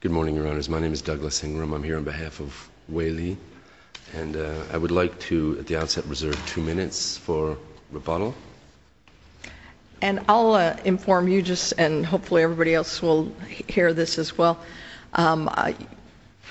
Good morning, Your Honors. My name is Douglas Ingram. I'm here on behalf of Wei Li, and I would like to, at the outset, reserve two minutes for rebuttal. And I'll inform you just, and hopefully everybody else will hear this as well,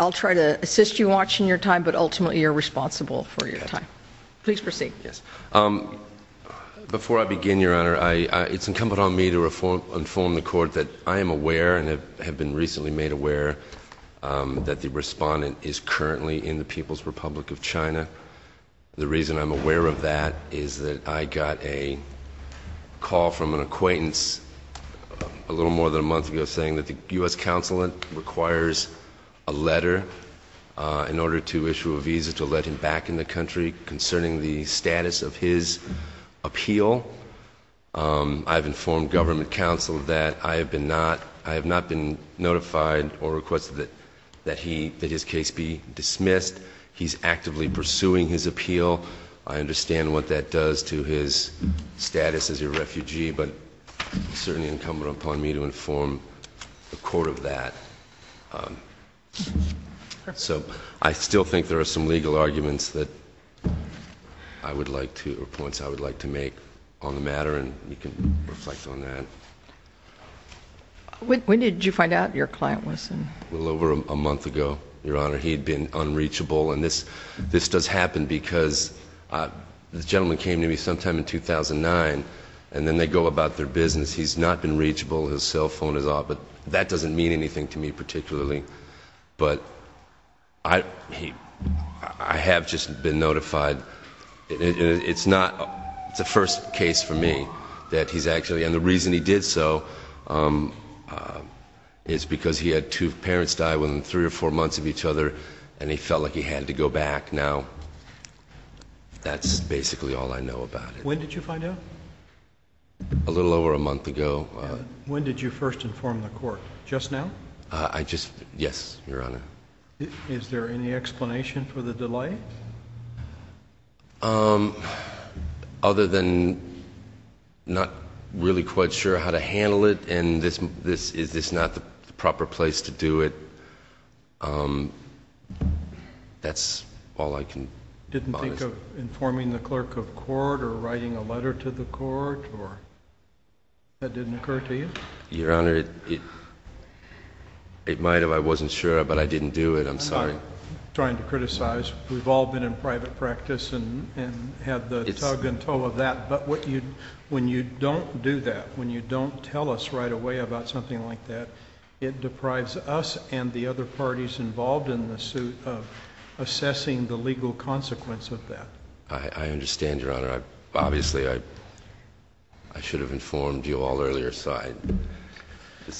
I'll try to assist you watching your time, but ultimately you're responsible for your time. Please proceed. Yes. Before I begin, Your Honor, it's incumbent on me to inform the Court that I am aware and have been recently made aware that the respondent is currently in the People's Republic of China. The reason I'm aware of that is that I got a call from an acquaintance a little more than a month ago saying that the U.S. consulate requires a letter in order to issue a visa to let him back in the country concerning the status of his appeal. I have informed government counsel that I have not been notified or requested that his case be dismissed. He's actively pursuing his appeal. I understand what that does to his status as a refugee, but it's certainly incumbent upon me to inform the Court of that. So, I still think there are some legal arguments that I would like to, or points I would like to make on the matter, and you can reflect on that. When did you find out your client was in? A little over a month ago, Your Honor. He'd been unreachable, and this does happen because this gentleman came to me sometime in 2009, and then they go about their business. He's not been reachable. His cell phone is off, but that doesn't mean anything to me particularly. But I have just been notified. It's not the first case for me that he's actually, and the reason he did so is because he had two parents die within three or four months of each other, and he felt like he had to go back. Now, that's basically all I know about it. When did you find out? A little over a month ago. When did you first inform the Court? Just now? I just, yes, Your Honor. Is there any explanation for the delay? Other than not really quite sure how to handle it, and is this not the proper place to do it, that's all I can promise. You didn't think of informing the clerk of court or writing a letter to the court, or that didn't occur to you? Your Honor, it might have. I wasn't sure, but I didn't do it. I'm sorry. I'm not trying to criticize. We've all been in private practice and had the tug and tow of that, but when you don't do that, when you don't tell us right away about something like that, it deprives us and the other parties involved in the suit of assessing the legal consequence of that. I understand, Your Honor. Obviously, I should have informed you all earlier, aside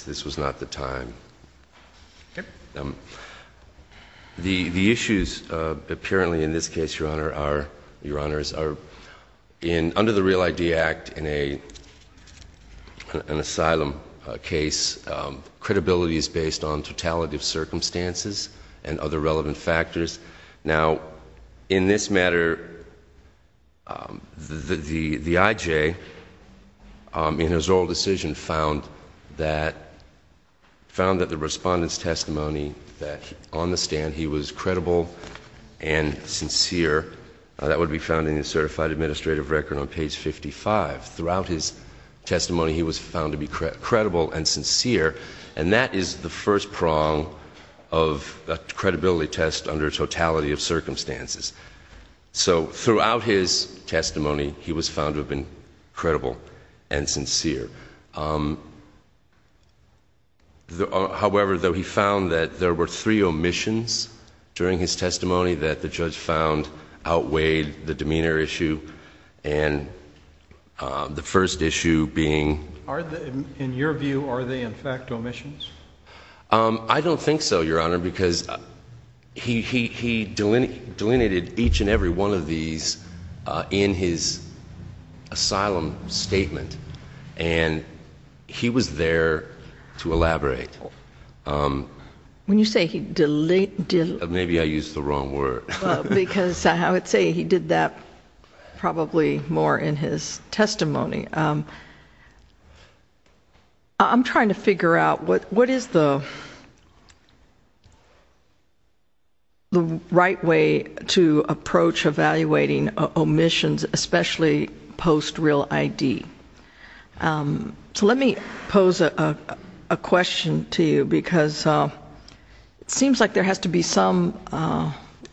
this was not the time. The issues, apparently, in this case, Your Honor, are under the Real ID Act, in an asylum case, credibility is based on totality of circumstances and other relevant factors. Now, in this matter, the IJ, in his oral decision, found that the Respondent's testimony that on the stand he was credible and sincere, that would be found in the Certified Administrative Record on page 55. Throughout his testimony, he was found to be credible and sincere, and that is the first prong of a credibility test under totality of circumstances. So throughout his testimony, he was found to have been credible and sincere. However, though, he found that there were three omissions during his testimony that the judge found outweighed the demeanor issue, and the first issue being... In your view, are they, in fact, omissions? I don't think so, Your Honor, because he delineated each and every one of these in his asylum statement, and he was there to elaborate. When you say he... Maybe I used the wrong word. Because I would say he did that probably more in his testimony. I'm trying to figure out what is the right way to approach evaluating omissions, especially post-real ID. So let me pose a question to you, because it seems like there has to be some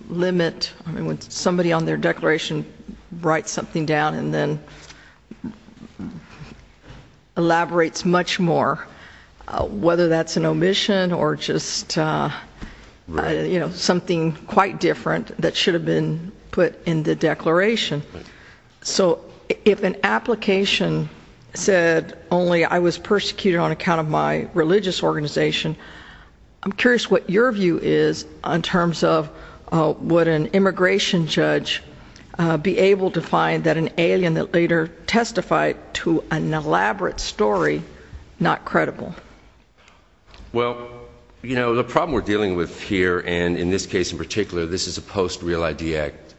limit. I mean, when somebody on their declaration writes something down and then elaborates much more, whether that's an omission or just, you know, something quite different that should have been put in the declaration. So if an application said only I was persecuted on account of my religious organization, I'm curious what your view is in terms of would an immigration judge be able to find that an alien that later testified to an elaborate story not credible? Well, you know, the problem we're dealing with here, and in this case in particular, this is a post-real ID act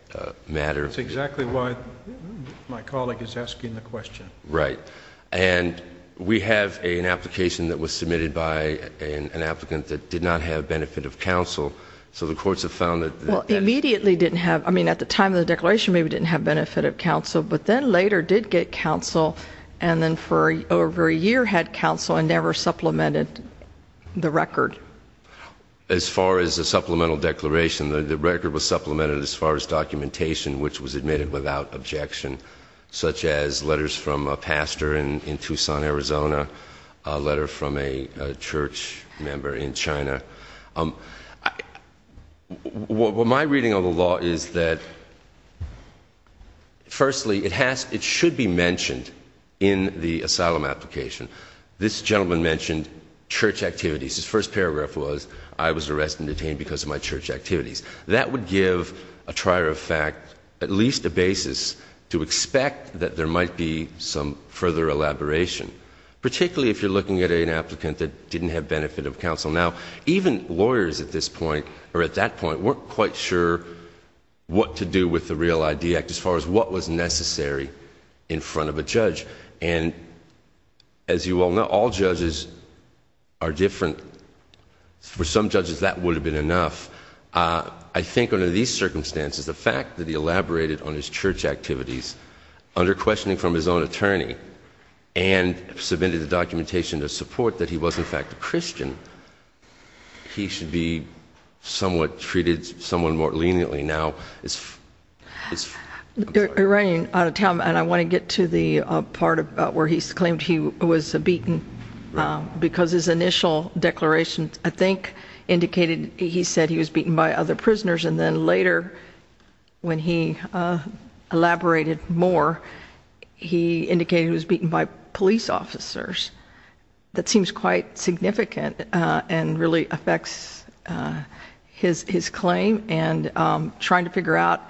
matter. That's exactly why my colleague is asking the question. Right. And we have an application that was submitted by an applicant that did not have benefit of counsel, so the courts have found that... Well, immediately didn't have... I mean, at the time of the declaration maybe didn't have benefit of counsel, but then later did get counsel, and then for over a year had counsel and never supplemented the record. As far as the supplemental declaration, the record was supplemented as far as it was admitted without objection, such as letters from a pastor in Tucson, Arizona, a letter from a church member in China. My reading of the law is that, firstly, it should be mentioned in the asylum application. This gentleman mentioned church activities. His first paragraph was, I was arrested and detained because of my church activities. That would give a trier of fact at least a basis to expect that there might be some further elaboration, particularly if you're looking at an applicant that didn't have benefit of counsel. Now, even lawyers at this point, or at that point, weren't quite sure what to do with the real ID act as far as what was necessary in front of a judge. And as you all know, all judges are different. For some judges, that would have been enough. I think under these circumstances, the fact that he elaborated on his church activities under questioning from his own attorney and submitted the documentation to support that he was, in fact, a Christian, he should be somewhat treated somewhat more leniently now. You're running out of time, and I want to get to the part where he's claimed he was beaten because his initial declaration, I think, indicated he said he was beaten by other prisoners. And then later when he elaborated more, he indicated he was beaten by police officers. That seems quite significant and really affects his claim and trying to figure out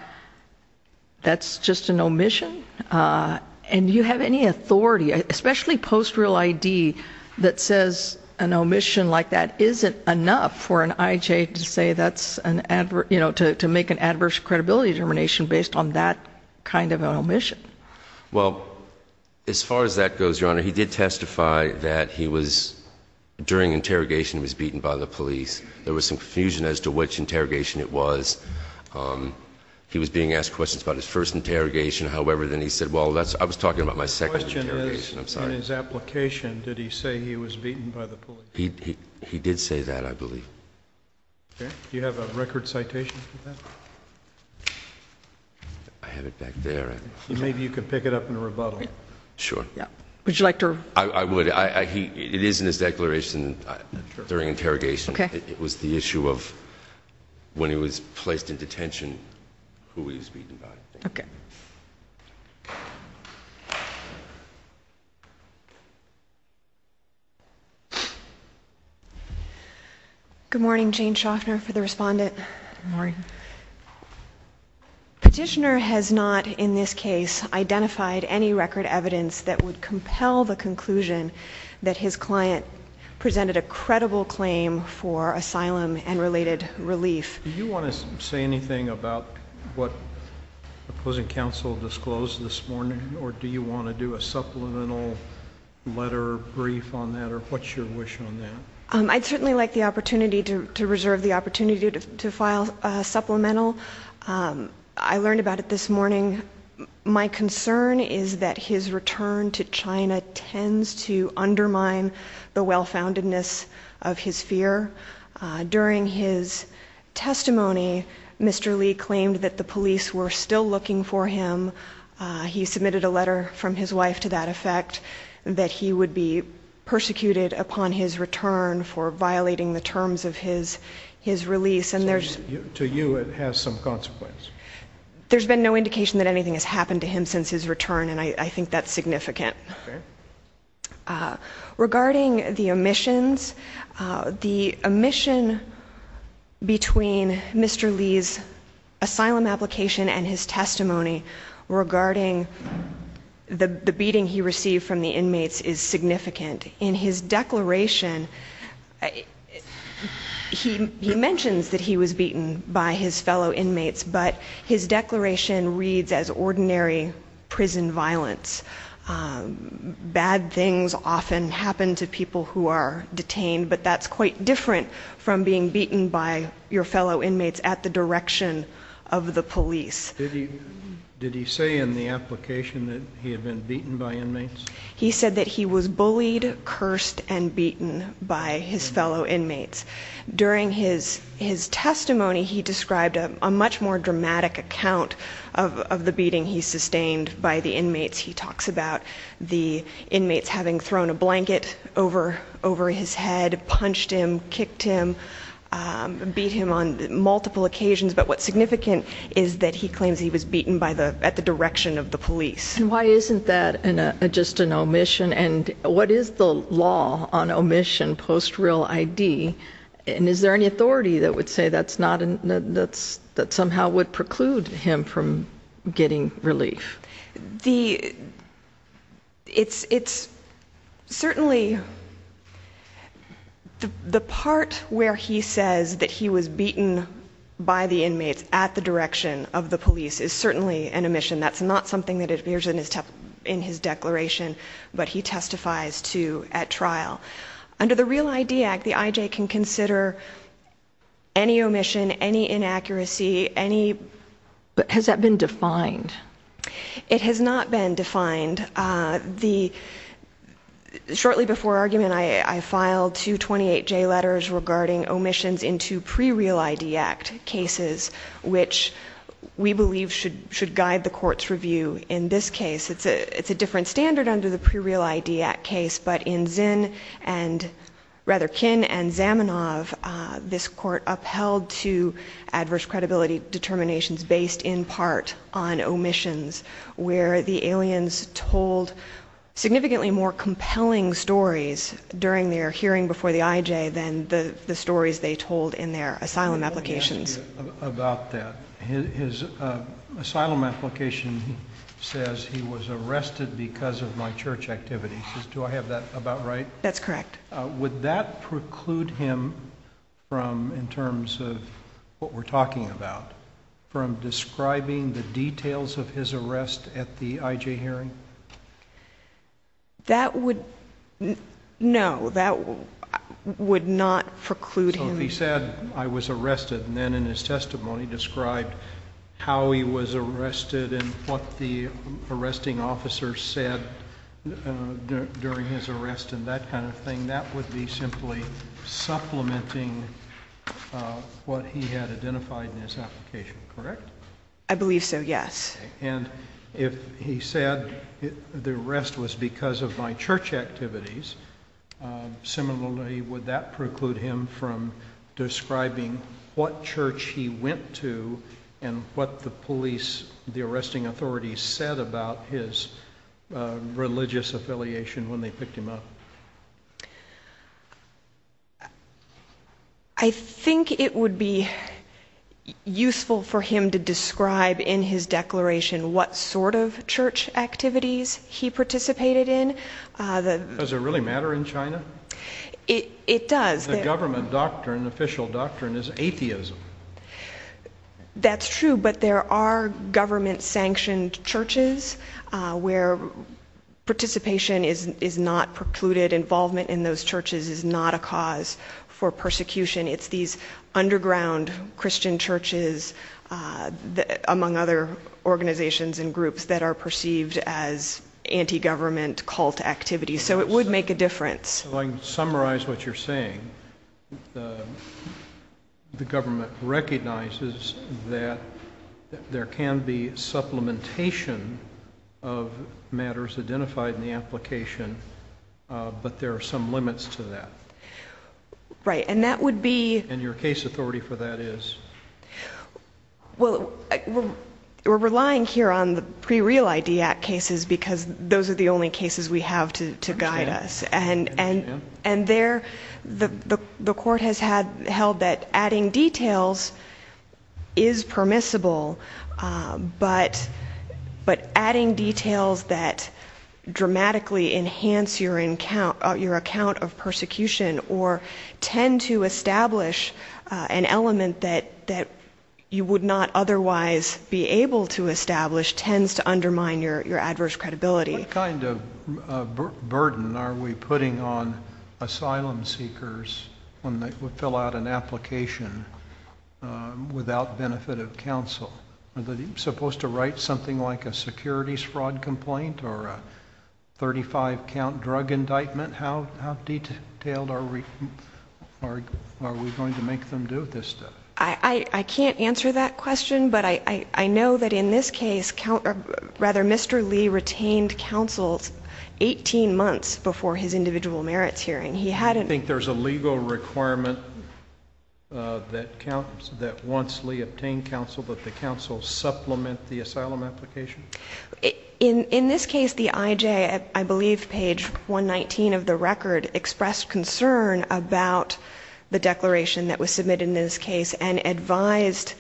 that's just an omission. And do you have any authority, especially post-real ID, that says an omission like that isn't enough for an IJ to make an adverse credibility determination based on that kind of an omission? Well, as far as that goes, Your Honor, he did testify that he was, during interrogation, was beaten by the police. There was some confusion as to which interrogation it was. He was being asked questions about his first interrogation. However, then he said, well, I was talking about my second interrogation. I'm sorry. In his application, did he say he was beaten by the police? He did say that, I believe. Okay. Do you have a record citation for that? I have it back there. Maybe you can pick it up in a rebuttal. Sure. Yeah. Would you like to? I would. It is in his declaration during interrogation. Okay. It was the issue of when he was placed in detention, who he was beaten by. Okay. Good morning. Jane Shoffner for the respondent. Good morning. Petitioner has not, in this case, identified any record evidence that would compel the conclusion that his client presented a credible claim for asylum and related relief. Do you want to say anything about what opposing counsel disclosed this morning, or do you want to do a supplemental letter brief on that, or what's your wish on that? I'd certainly like the opportunity to reserve the opportunity to file a supplemental. I learned about it this morning. My concern is that his return to China tends to undermine the well-foundedness of his fear. During his testimony, Mr. Lee claimed that the police were still looking for him. He submitted a letter from his wife to that effect, that he would be persecuted upon his return for violating the terms of his release. To you, it has some consequence. There's been no indication that anything has happened to him since his return, and I think that's significant. Okay. Regarding the omissions, the omission between Mr. Lee's asylum application and his testimony regarding the beating he received from the inmates is significant. In his declaration, he mentions that he was beaten by his fellow inmates, but his declaration reads as ordinary prison violence. Bad things often happen to people who are detained, but that's quite different from being beaten by your fellow inmates at the direction of the police. Did he say in the application that he had been beaten by inmates? He said that he was bullied, cursed, and beaten by his fellow inmates. During his testimony, he described a much more dramatic account of the beating he sustained by the inmates. He talks about the inmates having thrown a blanket over his head, punched him, kicked him, beat him on multiple occasions. But what's significant is that he claims he was beaten at the direction of the police. And why isn't that just an omission, and what is the law on omission post-real ID? And is there any authority that would say that somehow would preclude him from getting relief? It's certainly the part where he says that he was beaten by the inmates at the direction of the police is certainly an omission. That's not something that appears in his declaration, but he testifies to at trial. Under the Real ID Act, the I.J. can consider any omission, any inaccuracy, any— But has that been defined? It has not been defined. Shortly before argument, I filed two 28J letters regarding omissions into pre-Real ID Act cases, which we believe should guide the Court's review in this case. It's a different standard under the pre-Real ID Act case, but in Zinn and rather Kinn and Zamenhof, this Court upheld two adverse credibility determinations based in part on omissions, where the aliens told significantly more compelling stories during their hearing before the I.J. than the stories they told in their asylum applications. About that, his asylum application says he was arrested because of my church activities. Do I have that about right? That's correct. Would that preclude him from, in terms of what we're talking about, from describing the details of his arrest at the I.J. hearing? That would—no, that would not preclude him. So if he said, I was arrested, and then in his testimony described how he was arrested and what the arresting officer said during his arrest and that kind of thing, that would be simply supplementing what he had identified in his application, correct? I believe so, yes. And if he said the arrest was because of my church activities, similarly, would that preclude him from describing what church he went to and what the police, the arresting authorities, said about his religious affiliation when they picked him up? I think it would be useful for him to describe in his declaration what sort of church activities he participated in. Does it really matter in China? It does. The government doctrine, official doctrine, is atheism. That's true, but there are government-sanctioned churches where participation is not precluded. Involvement in those churches is not a cause for persecution. It's these underground Christian churches, among other organizations and groups, that are perceived as anti-government cult activities, so it would make a difference. If I can summarize what you're saying, the government recognizes that there can be supplementation of matters identified in the application, but there are some limits to that. Right, and that would be— And your case authority for that is? Well, we're relying here on the pre-Real ID Act cases because those are the only cases we have to guide us, and there the court has held that adding details is permissible, but adding details that dramatically enhance your account of persecution or tend to establish an element that you would not otherwise be able to establish tends to undermine your adverse credibility. What kind of burden are we putting on asylum seekers when they fill out an application without benefit of counsel? Are they supposed to write something like a securities fraud complaint or a 35-count drug indictment? How detailed are we going to make them do this stuff? I can't answer that question, but I know that in this case, Mr. Lee retained counsel 18 months before his individual merits hearing. You think there's a legal requirement that once Lee obtained counsel that the counsel supplement the asylum application? In this case, the IJ, I believe page 119 of the record, expressed concern about the declaration that was submitted in this case and advised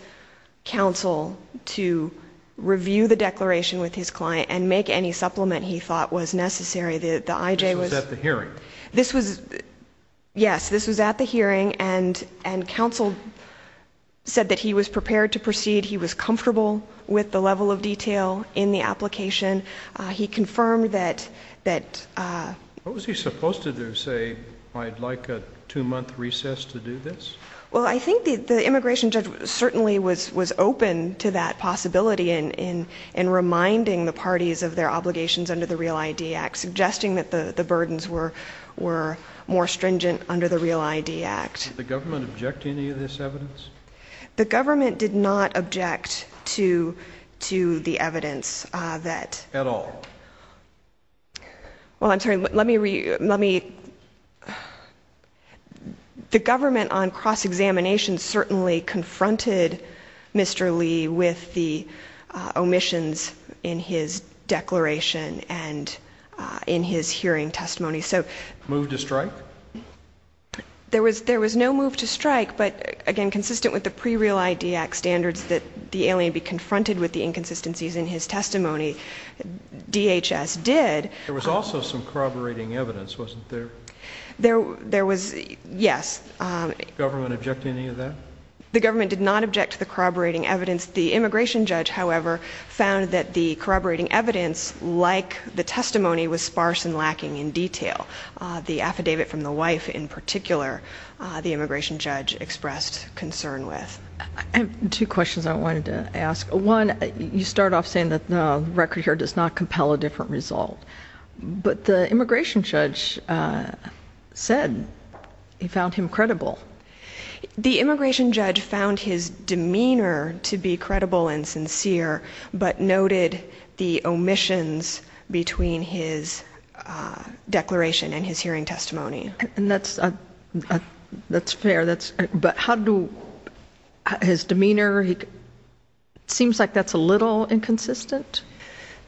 counsel to review the declaration with his client and make any supplement he thought was necessary. This was at the hearing? Yes, this was at the hearing, and counsel said that he was prepared to proceed, he was comfortable with the level of detail in the application. He confirmed that... What was he supposed to do, say, I'd like a two-month recess to do this? Well, I think the immigration judge certainly was open to that possibility in reminding the parties of their obligations under the REAL-ID Act, suggesting that the burdens were more stringent under the REAL-ID Act. Did the government object to any of this evidence? The government did not object to the evidence that... At all? Well, I'm sorry, let me... The government on cross-examination certainly confronted Mr. Lee with the omissions in his declaration and in his hearing testimony. So... Move to strike? There was no move to strike, but, again, consistent with the pre-REAL-ID Act standards that the alien be confronted with the inconsistencies in his testimony, DHS did. There was also some corroborating evidence, wasn't there? There was, yes. Did the government object to any of that? The government did not object to the corroborating evidence. The immigration judge, however, found that the corroborating evidence, like the testimony, was sparse and lacking in detail. The affidavit from the wife, in particular, the immigration judge expressed concern with. I have two questions I wanted to ask. One, you start off saying that the record here does not compel a different result, but the immigration judge said he found him credible. The immigration judge found his demeanor to be credible and sincere, but noted the omissions between his declaration and his hearing testimony. That's fair. But how do his demeanor, it seems like that's a little inconsistent.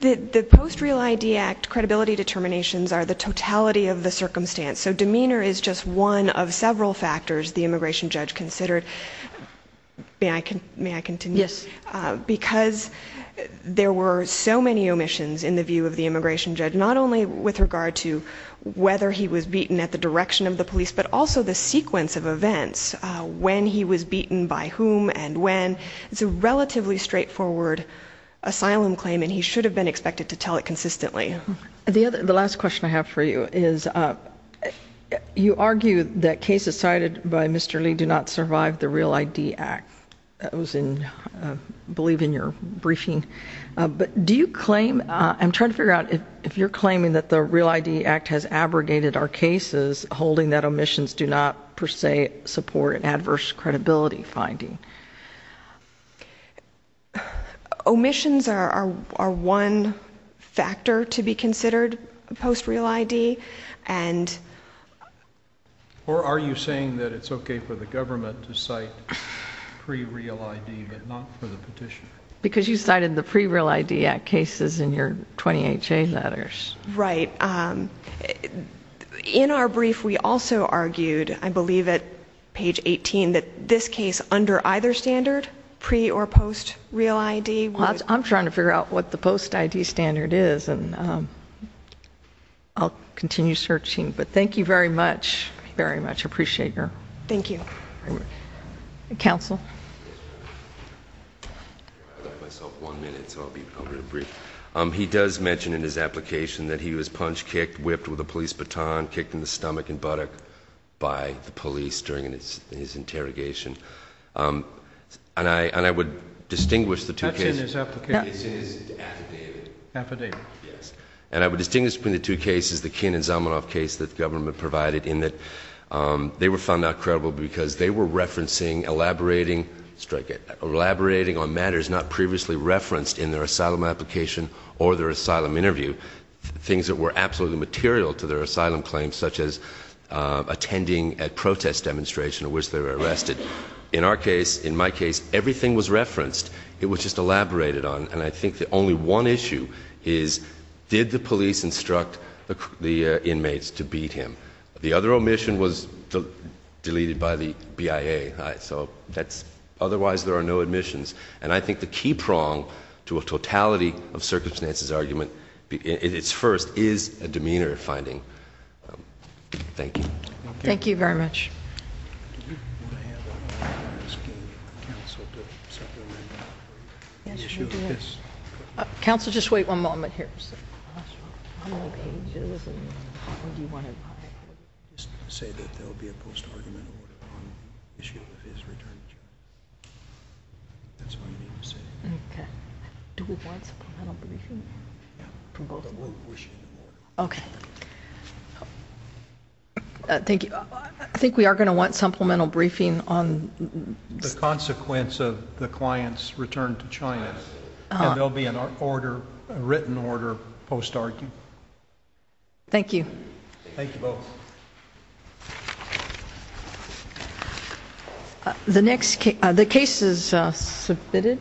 The post-REAL-ID Act credibility determinations are the totality of the circumstance, so demeanor is just one of several factors the immigration judge considered. May I continue? Yes. Because there were so many omissions in the view of the immigration judge, not only with regard to whether he was beaten at the direction of the police, but also the sequence of events, when he was beaten by whom and when. It's a relatively straightforward asylum claim, and he should have been expected to tell it consistently. The last question I have for you is, you argue that cases cited by Mr. Lee do not survive the REAL-ID Act. That was, I believe, in your briefing. I'm trying to figure out if you're claiming that the REAL-ID Act has abrogated our cases, holding that omissions do not, per se, support an adverse credibility finding. Omissions are one factor to be considered post-REAL-ID. Or are you saying that it's okay for the government to cite pre-REAL-ID but not for the petitioner? Because you cited the pre-REAL-ID Act cases in your 28-J letters. Right. In our brief, we also argued, I believe, at page 18, that this case under either standard, pre- or post-REAL-ID. I'm trying to figure out what the post-ID standard is, and I'll continue searching. But thank you very much. Thank you. I very much appreciate your... Thank you. Counsel. I left myself one minute, so I'll be brief. He does mention in his application that he was punched, kicked, whipped with a police baton, kicked in the stomach and buttock by the police during his interrogation. And I would distinguish the two cases. That's in his application. This is affidavit. Affidavit. Yes. And I would distinguish between the two cases, the Kinn and Zamenhof case that the government provided, in that they were found not credible because they were referencing, elaborating on matters not previously referenced in their asylum application or their asylum interview, things that were absolutely material to their asylum claims, such as attending a protest demonstration in which they were arrested. In our case, in my case, everything was referenced. It was just elaborated on. And I think that only one issue is, did the police instruct the inmates to beat him? The other omission was deleted by the BIA. So that's otherwise there are no admissions. And I think the key prong to a totality of circumstances argument, at its first, is a demeanor finding. Thank you. Thank you very much. Counsel, just wait one moment here. How many pages? What do you want to write? Just say that there will be a post-argument order on the issue of his return to China. That's all you need to say. Okay. Do we want supplemental briefing? No. From both of you? We'll issue you one. Okay. Thank you. I think we are going to want supplemental briefing on the consequence of the client's return to China. And there will be a written order post-argument. Thank you. Thank you both. The case is submitted.